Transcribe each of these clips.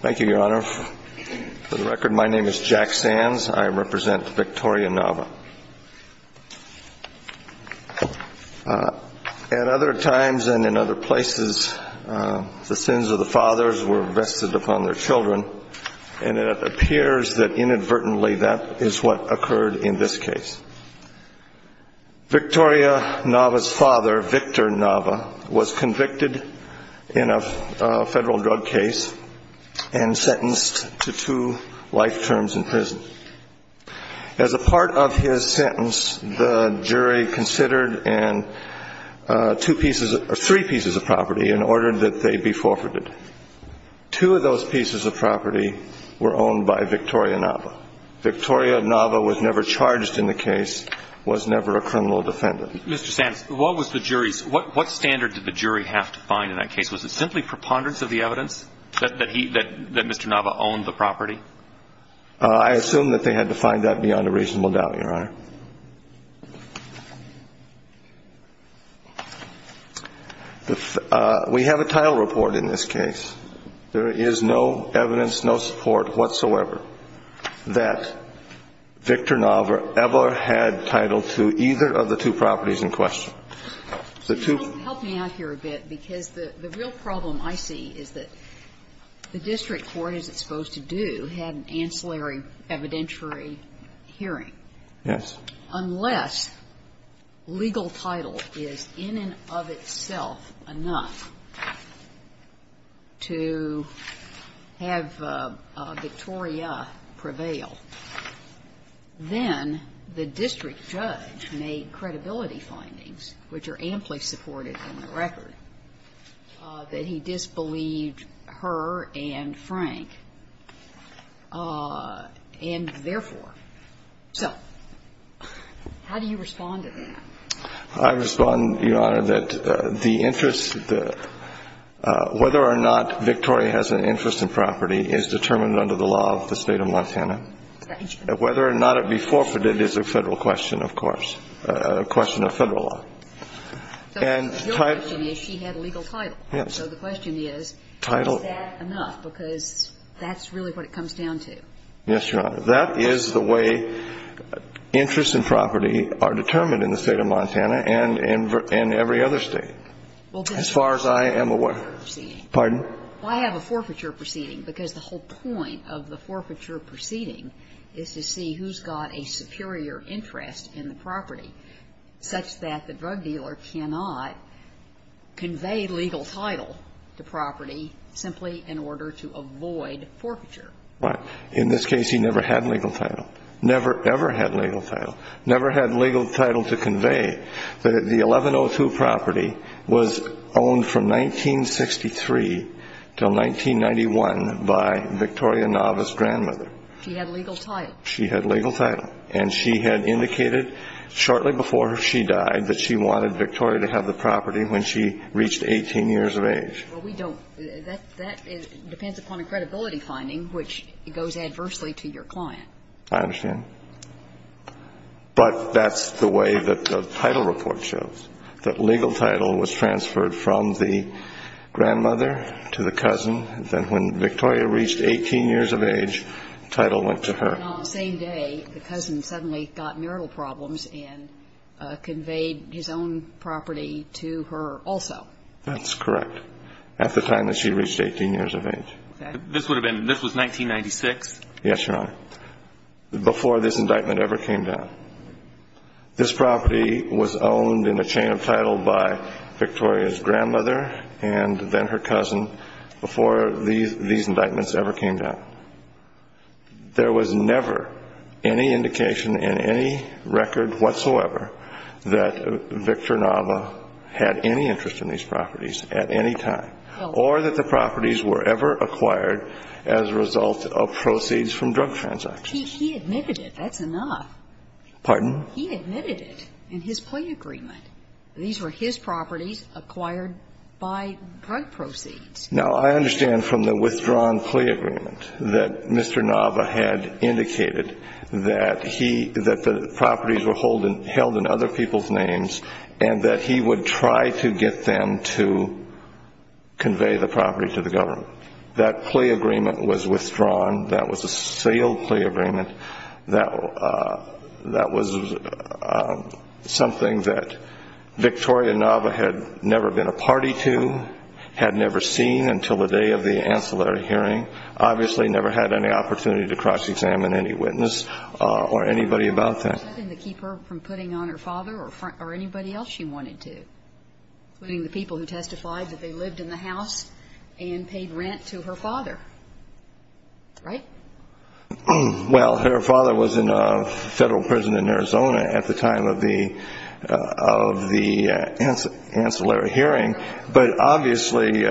Thank you, your Honor. For the record, my name is Jack Sands. I represent Victoria Nava. At other times and in other places, the sins of the fathers were vested upon their children, and it appears that inadvertently that is what occurred in this case. Victoria Nava's father was Victor Nava was convicted in a federal drug case and sentenced to two life terms in prison. As a part of his sentence, the jury considered three pieces of property in order that they be forfeited. Two of those pieces of property were owned by Victoria Nava. Victoria Nava was never charged in the case, was never a criminal defendant. Mr. Sands, what was the jury's, what standard did the jury have to find in that case? Was it simply preponderance of the evidence that he, that Mr. Nava owned the property? I assume that they had to find that beyond a reasonable doubt, your Honor. We have a title report in this case. There is no evidence, no support whatsoever, that Victor Nava ever had title to either of the two properties in question. Help me out here a bit, because the real problem I see is that the district court as it's supposed to do had an ancillary evidentiary hearing. Yes. Well, unless legal title is in and of itself enough to have Victoria prevail, then the district judge made credibility findings, which are amply supported in the record, that he disbelieved her and Frank, and therefore. So how do you respond to that? I respond, your Honor, that the interest, whether or not Victoria has an interest in property is determined under the law of the State of Montana. Whether or not it be forfeited is a Federal question, of course, a question of Federal law. So your question is she had legal title. Yes. So the question is, is that enough, because that's really what it comes down to. Yes, your Honor. That is the way interest in property are determined in the State of Montana and in every other State, as far as I am aware. Well, I have a forfeiture proceeding. Pardon? Well, I have a forfeiture proceeding, because the whole point of the forfeiture proceeding is to see who's got a superior interest in the property, such that the drug dealer cannot convey legal title to property simply in order to avoid forfeiture. In this case, he never had legal title. Never, ever had legal title. Never had legal title to convey that the 1102 property was owned from 1963 until 1991 by Victoria Nava's grandmother. She had legal title. She had legal title. And she had indicated shortly before she died that she wanted Victoria to have the property when she reached 18 years of age. Well, we don't – that depends upon a credibility finding, which goes adversely to your client. I understand. But that's the way that the title report shows, that legal title was transferred from the grandmother to the cousin. Then when Victoria reached 18 years of age, title went to her. And on the same day, the cousin suddenly got marital problems and conveyed his own property to her also. That's correct. At the time that she reached 18 years of age. This would have been – this was 1996? Yes, Your Honor. Before this indictment ever came down. This property was owned in a chain of title by Victoria's grandmother and then her cousin before these indictments ever came down. There was never any indication in any record whatsoever that Victoria Nava had any interest in these properties at any time. Or that the properties were ever acquired as a result of proceeds from drug transactions. He admitted it. That's enough. Pardon? He admitted it in his plea agreement. These were his properties acquired by drug proceeds. Now, I understand from the withdrawn plea agreement that Mr. Nava had indicated that the properties were held in other people's names and that he would try to get them to convey the property to the government. That plea agreement was withdrawn. That was a sealed plea agreement. That was something that Victoria Nava had never been a party to, had never seen until the day of the ancillary hearing. Obviously, never had any opportunity to cross-examine any witness or anybody about that. And to keep her from putting on her father or anybody else she wanted to, including the people who testified that they lived in the house and paid rent to her father. Right? Well, her father was in a Federal prison in Arizona at the time of the ancillary hearing. But obviously,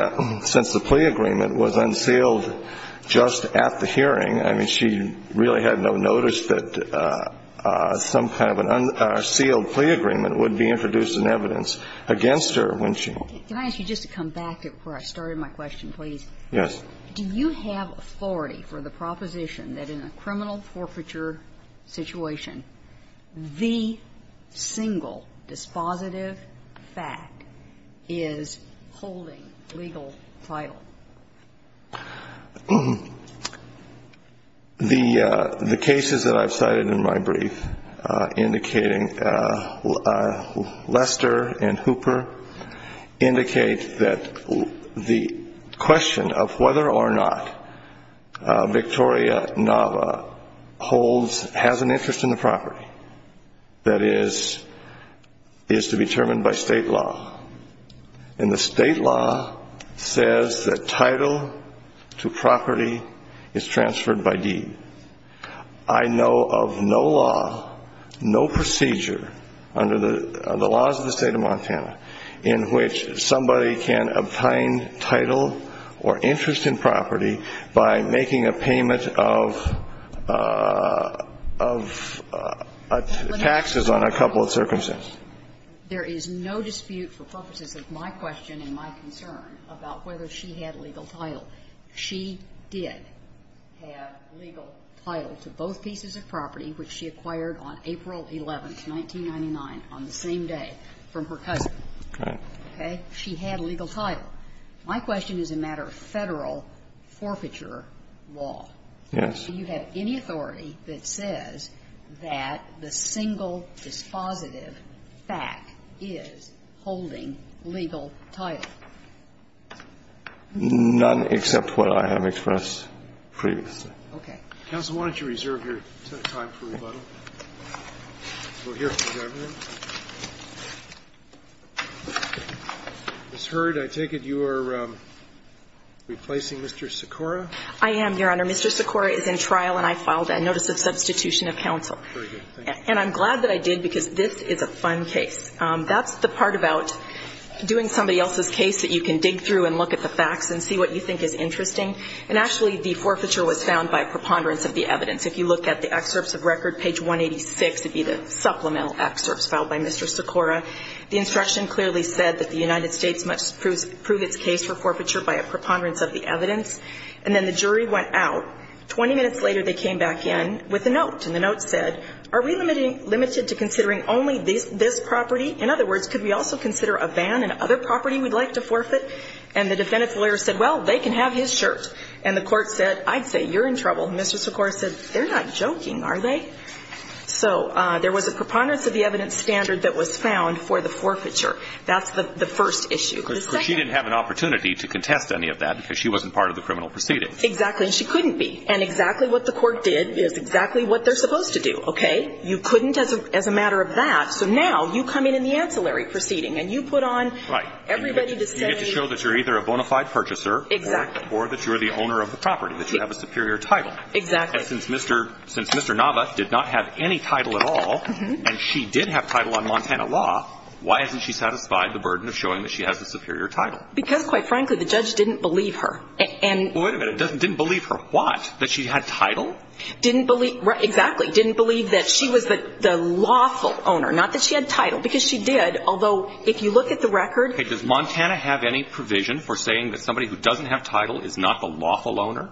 since the plea agreement was unsealed just at the hearing, I mean, she really had no notice that some kind of unsealed plea agreement would be introduced in evidence against her when she. Can I ask you just to come back to where I started my question, please? Yes. Do you have authority for the proposition that in a criminal forfeiture situation, the single dispositive fact is holding legal title? The cases that I've cited in my brief indicating Lester and Hooper indicate that the question of whether or not Victoria Nava has an interest in the property that is to be determined by state law. And the state law says that title to property is transferred by deed. I know of no law, no procedure under the laws of the State of Montana in which somebody can obtain title or interest in property by making a payment of taxes on a couple of circumstances. There is no dispute for purposes of my question and my concern about whether she had legal title. She did have legal title to both pieces of property which she acquired on April 11, 1999, on the same day from her cousin. Right. Okay? She had legal title. My question is a matter of Federal forfeiture law. Yes. Do you have any authority that says that the single dispositive fact is holding legal title? None except what I have expressed previously. Okay. Counsel, why don't you reserve your time for rebuttal? We'll hear from the governor. Ms. Hurd, I take it you are replacing Mr. Sikora? I am, Your Honor. Mr. Sikora is in trial and I filed a notice of substitution of counsel. Very good. Thank you. And I'm glad that I did because this is a fun case. That's the part about doing somebody else's case that you can dig through and look at the facts and see what you think is interesting. And actually, the forfeiture was found by preponderance of the evidence. If you look at the excerpts of record, page 186 would be the supplemental excerpts filed by Mr. Sikora. The instruction clearly said that the United States must prove its case for forfeiture by a preponderance of the evidence. And then the jury went out. Twenty minutes later, they came back in with a note. And the note said, are we limited to considering only this property? In other words, could we also consider a van and other property we'd like to forfeit? And the defendant's lawyer said, well, they can have his shirt. And the court said, I'd say you're in trouble. And Mr. Sikora said, they're not joking, are they? So there was a preponderance of the evidence standard that was found for the forfeiture. That's the first issue. Because she didn't have an opportunity to contest any of that because she wasn't part of the criminal proceeding. Exactly. And she couldn't be. And exactly what the court did is exactly what they're supposed to do. Okay? You couldn't as a matter of that. So now you come in in the ancillary proceeding and you put on everybody to say. You get to show that you're either a bona fide purchaser. Exactly. Or that you're the owner of the property, that you have a superior title. Exactly. And since Mr. Nava did not have any title at all, and she did have title on Montana law, why hasn't she satisfied the burden of showing that she has a superior title? Because, quite frankly, the judge didn't believe her. Wait a minute. Didn't believe her what? That she had title? Exactly. Didn't believe that she was the lawful owner. Not that she had title. Because she did. Although, if you look at the record. Does Montana have any provision for saying that somebody who doesn't have title is not the lawful owner?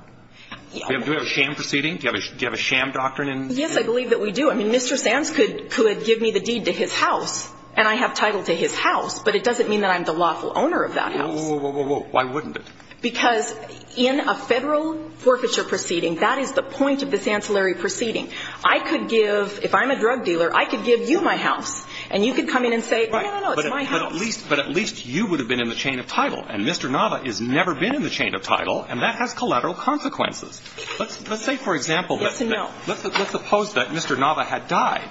Do we have a sham proceeding? Do you have a sham doctrine? Yes, I believe that we do. I mean, Mr. Sams could give me the deed to his house, and I have title to his house. But it doesn't mean that I'm the lawful owner of that house. Whoa, whoa, whoa. Why wouldn't it? Because in a federal forfeiture proceeding, that is the point of this ancillary proceeding. I could give, if I'm a drug dealer, I could give you my house. And you could come in and say, no, no, no, it's my house. But at least you would have been in the chain of title. And Mr. Nava has never been in the chain of title, and that has collateral consequences. Let's say, for example, let's suppose that Mr. Nava had died.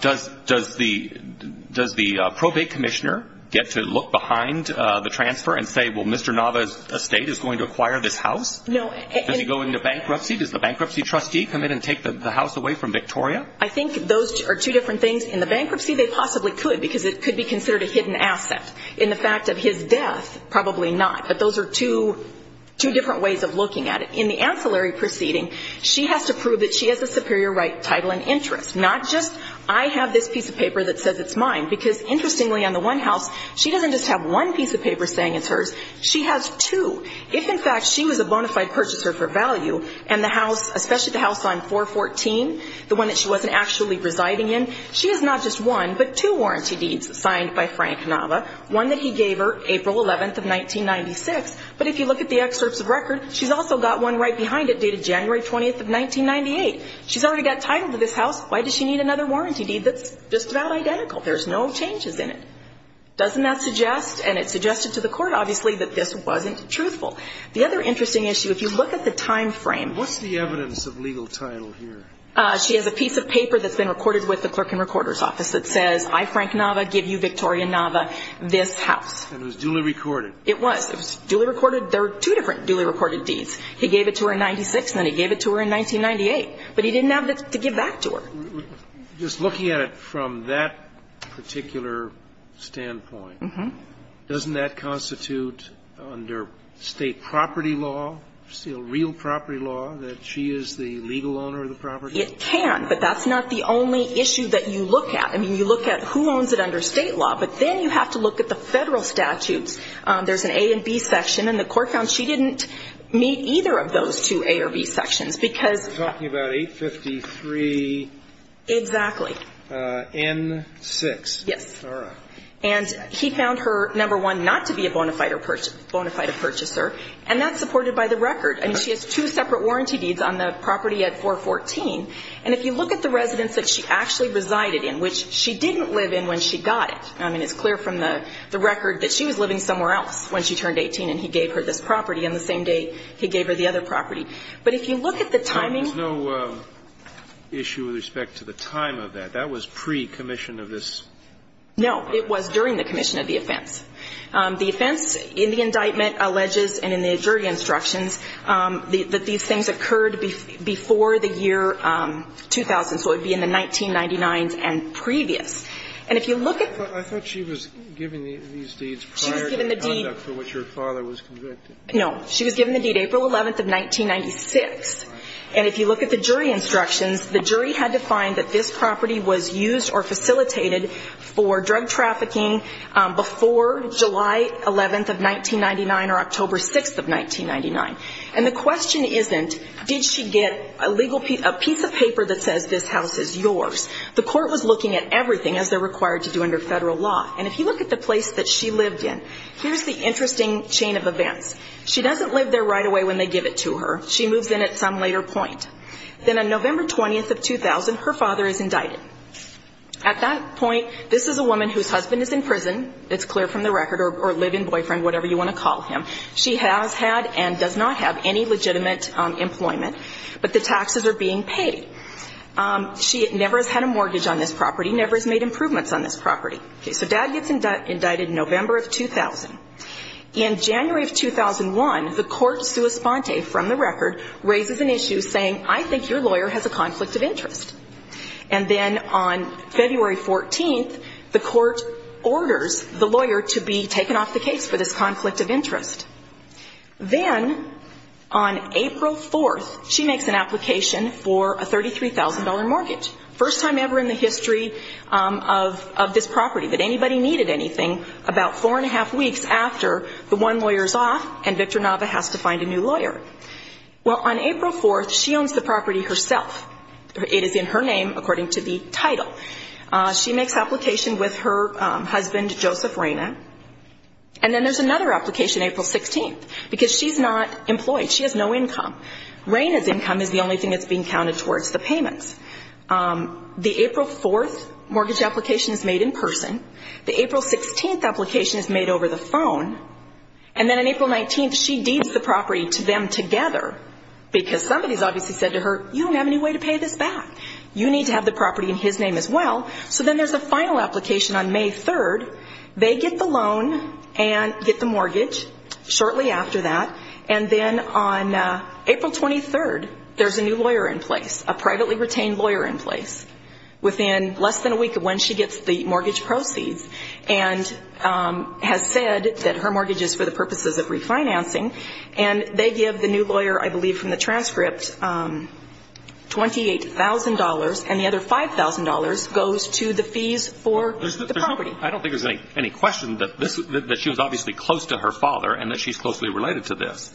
Does the probate commissioner get to look behind the transfer and say, well, Mr. Nava's estate is going to acquire this house? No. Does he go into bankruptcy? Does the bankruptcy trustee come in and take the house away from Victoria? I think those are two different things. In the bankruptcy, they possibly could because it could be considered a hidden asset. In the fact of his death, probably not. But those are two different ways of looking at it. In the ancillary proceeding, she has to prove that she has a superior right, title, and interest, not just I have this piece of paper that says it's mine. Because, interestingly, on the one house, she doesn't just have one piece of paper saying it's hers. She has two. If, in fact, she was a bona fide purchaser for value, and the house, especially the house on 414, the one that she wasn't actually residing in, she has not just one, but two warranty deeds signed by Frank Nava, one that he gave her April 11th of 1996. But if you look at the excerpts of record, she's also got one right behind it dated January 20th of 1998. She's already got title to this house. Why does she need another warranty deed that's just about identical? There's no changes in it. Doesn't that suggest, and it suggested to the court, obviously, that this wasn't truthful. The other interesting issue, if you look at the time frame. What's the evidence of legal title here? She has a piece of paper that's been recorded with the clerk and recorder's office that says, I, Frank Nava, give you, Victoria Nava, this house. And it was duly recorded. It was. It was duly recorded. There were two different duly recorded deeds. He gave it to her in 1996, and then he gave it to her in 1998. But he didn't have to give back to her. Just looking at it from that particular standpoint, doesn't that constitute, under State property law, real property law, that she is the legal owner of the property? It can. But that's not the only issue that you look at. I mean, you look at who owns it under State law. But then you have to look at the federal statutes. There's an A and B section. And the court found she didn't meet either of those two A or B sections. You're talking about 853 N6. Yes. And he found her, number one, not to be a bona fide purchaser. And that's supported by the record. I mean, she has two separate warranty deeds on the property at 414. And if you look at the residence that she actually resided in, which she didn't live in when she got it, I mean, it's clear from the record that she was living somewhere else when she turned 18 and he gave her this property on the same day he gave her the other property. But if you look at the timing. There's no issue with respect to the time of that. That was pre-commission of this. No. It was during the commission of the offense. The offense in the indictment alleges and in the jury instructions that these things occurred before the year 2000. So it would be in the 1999s and previous. And if you look at the. I thought she was given these deeds prior to the conduct for which her father was convicted. No. She was given the deed April 11th of 1996. And if you look at the jury instructions, the jury had to find that this property was used or facilitated for drug trafficking before July 11th of 1999 or October 6th of 1999. And the question isn't did she get a legal piece of paper that says this house is yours. The court was looking at everything as they're required to do under federal law. And if you look at the place that she lived in, here's the interesting chain of events. She doesn't live there right away when they give it to her. She moves in at some later point. Then on November 20th of 2000, her father is indicted. At that point, this is a woman whose husband is in prison. It's clear from the record or live-in boyfriend, whatever you want to call him. She has had and does not have any legitimate employment. But the taxes are being paid. She never has had a mortgage on this property, never has made improvements on this property. Okay. So dad gets indicted November of 2000. In January of 2001, the court, sua sponte, from the record, raises an issue saying, I think your lawyer has a conflict of interest. And then on February 14th, the court orders the lawyer to be taken off the case for this conflict of interest. Then on April 4th, she makes an application for a $33,000 mortgage. First time ever in the history of this property that anybody needed anything about four and a half weeks after the one lawyer is off and Victor Nava has to find a new lawyer. Well, on April 4th, she owns the property herself. It is in her name according to the title. She makes application with her husband, Joseph Reyna. And then there's another application April 16th because she's not employed. She has no income. Reyna's income is the only thing that's being counted towards the payments. The April 4th mortgage application is made in person. The April 16th application is made over the phone. And then on April 19th, she deeds the property to them together because somebody's obviously said to her, you don't have any way to pay this back. You need to have the property in his name as well. So then there's a final application on May 3rd. They get the loan and get the mortgage shortly after that. And then on April 23rd, there's a new lawyer in place, a privately retained lawyer in place within less than a week of when she gets the mortgage proceeds and has said that her mortgage is for the purposes of refinancing. And they give the new lawyer, I believe from the transcript, $28,000, and the other $5,000 goes to the fees for the property. I don't think there's any question that she was obviously close to her father and that she's closely related to this.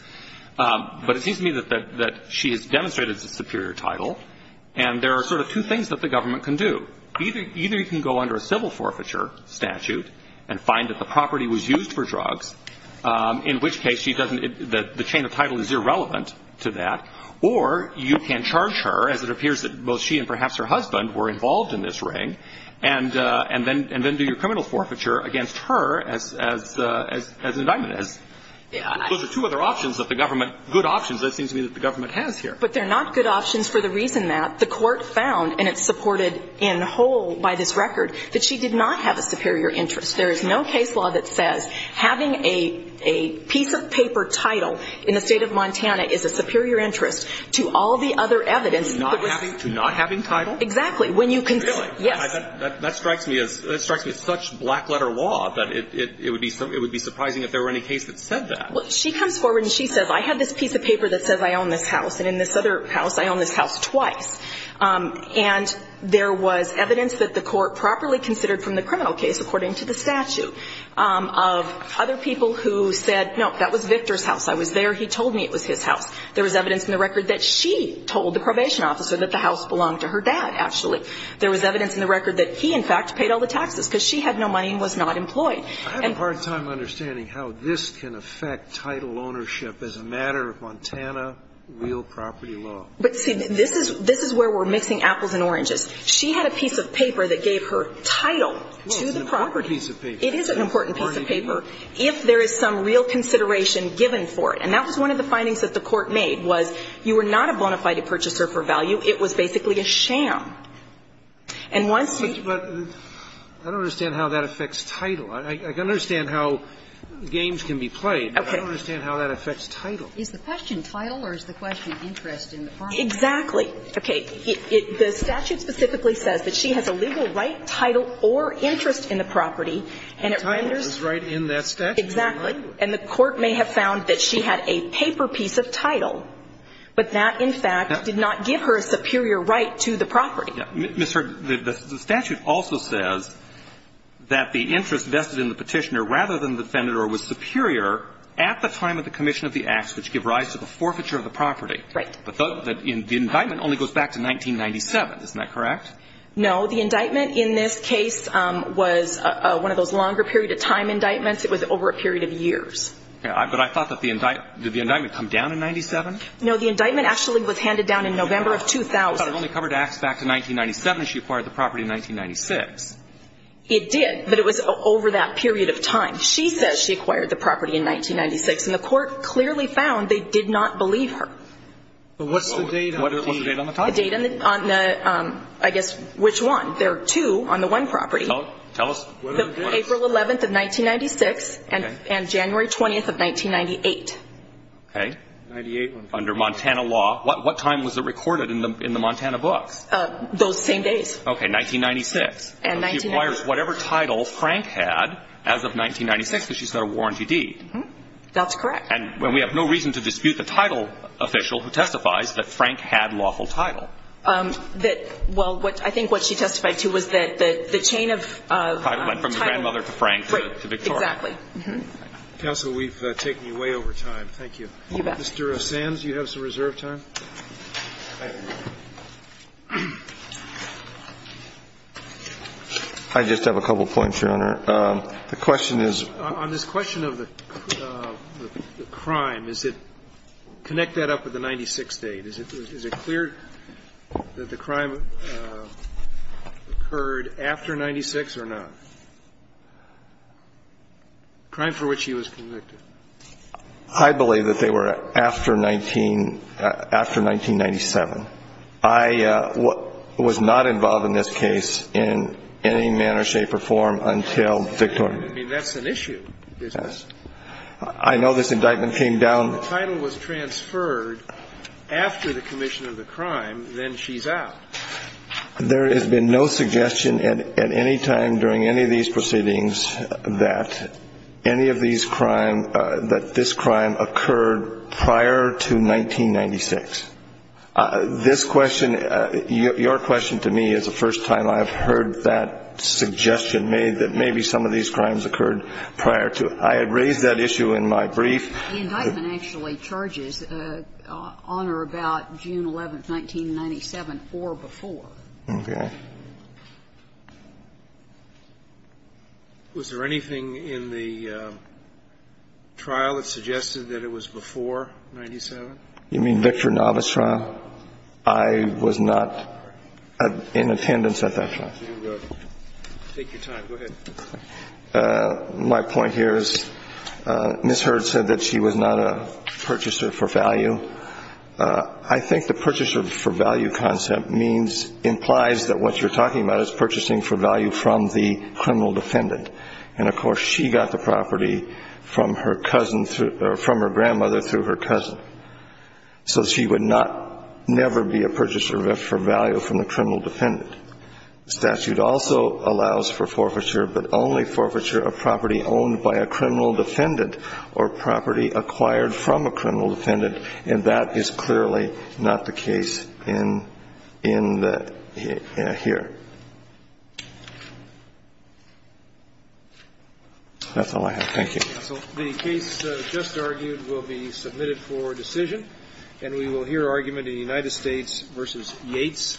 But it seems to me that she has demonstrated a superior title. And there are sort of two things that the government can do. Either you can go under a civil forfeiture statute and find that the property was used for drugs, in which case the chain of title is irrelevant to that, or you can charge her, as it appears that both she and perhaps her husband were involved in this ring, and then do your criminal forfeiture against her as an indictment. Those are two other options that the government, good options, it seems to me that the government has here. But they're not good options for the reason that the court found, and it's supported in whole by this record, that she did not have a superior interest. There is no case law that says having a piece of paper title in the State of Montana is a superior interest to all the other evidence. To not having title? Exactly. Really? Yes. That strikes me as such black letter law that it would be surprising if there were any case that said that. Well, she comes forward and she says, I have this piece of paper that says I own this house, and in this other house I own this house twice. And there was evidence that the court properly considered from the criminal case, according to the statute, of other people who said, no, that was Victor's house. I was there. He told me it was his house. There was evidence in the record that she told the probation officer that the court said that, actually. There was evidence in the record that he, in fact, paid all the taxes because she had no money and was not employed. I have a hard time understanding how this can affect title ownership as a matter of Montana real property law. But see, this is where we're mixing apples and oranges. She had a piece of paper that gave her title to the property. Well, it's an important piece of paper. It is an important piece of paper if there is some real consideration given for it. And that was one of the findings that the court made was you were not a bona fide purchaser for value. It was basically a sham. And once you ---- But I don't understand how that affects title. I can understand how games can be played. Okay. But I don't understand how that affects title. Is the question title or is the question interest in the property? Exactly. Okay. The statute specifically says that she has a legal right, title, or interest in the property, and it renders ---- Title is right in that statute. Exactly. And the court may have found that she had a paper piece of title, but that, in fact, did not give her a superior right to the property. Ms. Hurd, the statute also says that the interest vested in the petitioner rather than the defendant or was superior at the time of the commission of the acts which give rise to the forfeiture of the property. Right. But the indictment only goes back to 1997. Isn't that correct? No. The indictment in this case was one of those longer period of time indictments. It was over a period of years. But I thought that the indictment ---- did the indictment come down in 1997? No. The indictment actually was handed down in November of 2000. Well, it only covered acts back to 1997. She acquired the property in 1996. It did, but it was over that period of time. She says she acquired the property in 1996, and the court clearly found they did not believe her. But what's the date on the deed? What's the date on the title? The date on the ---- I guess which one? There are two on the one property. Tell us what are the dates. April 11th of 1996 and January 20th of 1998. Okay. Under Montana law. What time was it recorded in the Montana books? Those same days. Okay. 1996. She acquires whatever title Frank had as of 1996, because she's got a warranty deed. That's correct. And we have no reason to dispute the title official who testifies that Frank had lawful title. Well, I think what she testified to was that the chain of title ---- From the grandmother to Frank to Victoria. Exactly. Counsel, we've taken you way over time. Thank you. Mr. Sands, you have some reserve time. I just have a couple points, Your Honor. The question is ---- On this question of the crime, is it ---- connect that up with the 96th date. Is it clear that the crime occurred after 96 or not? Crime for which he was convicted. I believe that they were after 1997. I was not involved in this case in any manner, shape or form until Victoria ---- I mean, that's an issue, isn't it? I know this indictment came down ---- The title was transferred after the commission of the crime, then she's out. There has been no suggestion at any time during any of these proceedings that any of these crime, that this crime occurred prior to 1996. This question, your question to me is the first time I have heard that suggestion made that maybe some of these crimes occurred prior to. I had raised that issue in my brief. The indictment actually charges on or about June 11th, 1997 or before. Okay. Was there anything in the trial that suggested that it was before 97? You mean Victor Novice trial? I was not in attendance at that trial. Take your time. Go ahead. My point here is Ms. Hurd said that she was not a purchaser for value. I think the purchaser for value concept means, implies that what you're talking about is purchasing for value from the criminal defendant. And, of course, she got the property from her cousin, from her grandmother through her cousin. So she would not, never be a purchaser for value from the criminal defendant. The statute also allows for forfeiture, but only forfeiture of property owned by a criminal defendant or property acquired from a criminal defendant. And that is clearly not the case in the, here. That's all I have. Thank you. Counsel, the case just argued will be submitted for decision. And we will hear argument in the United States v. Yates. Thank you.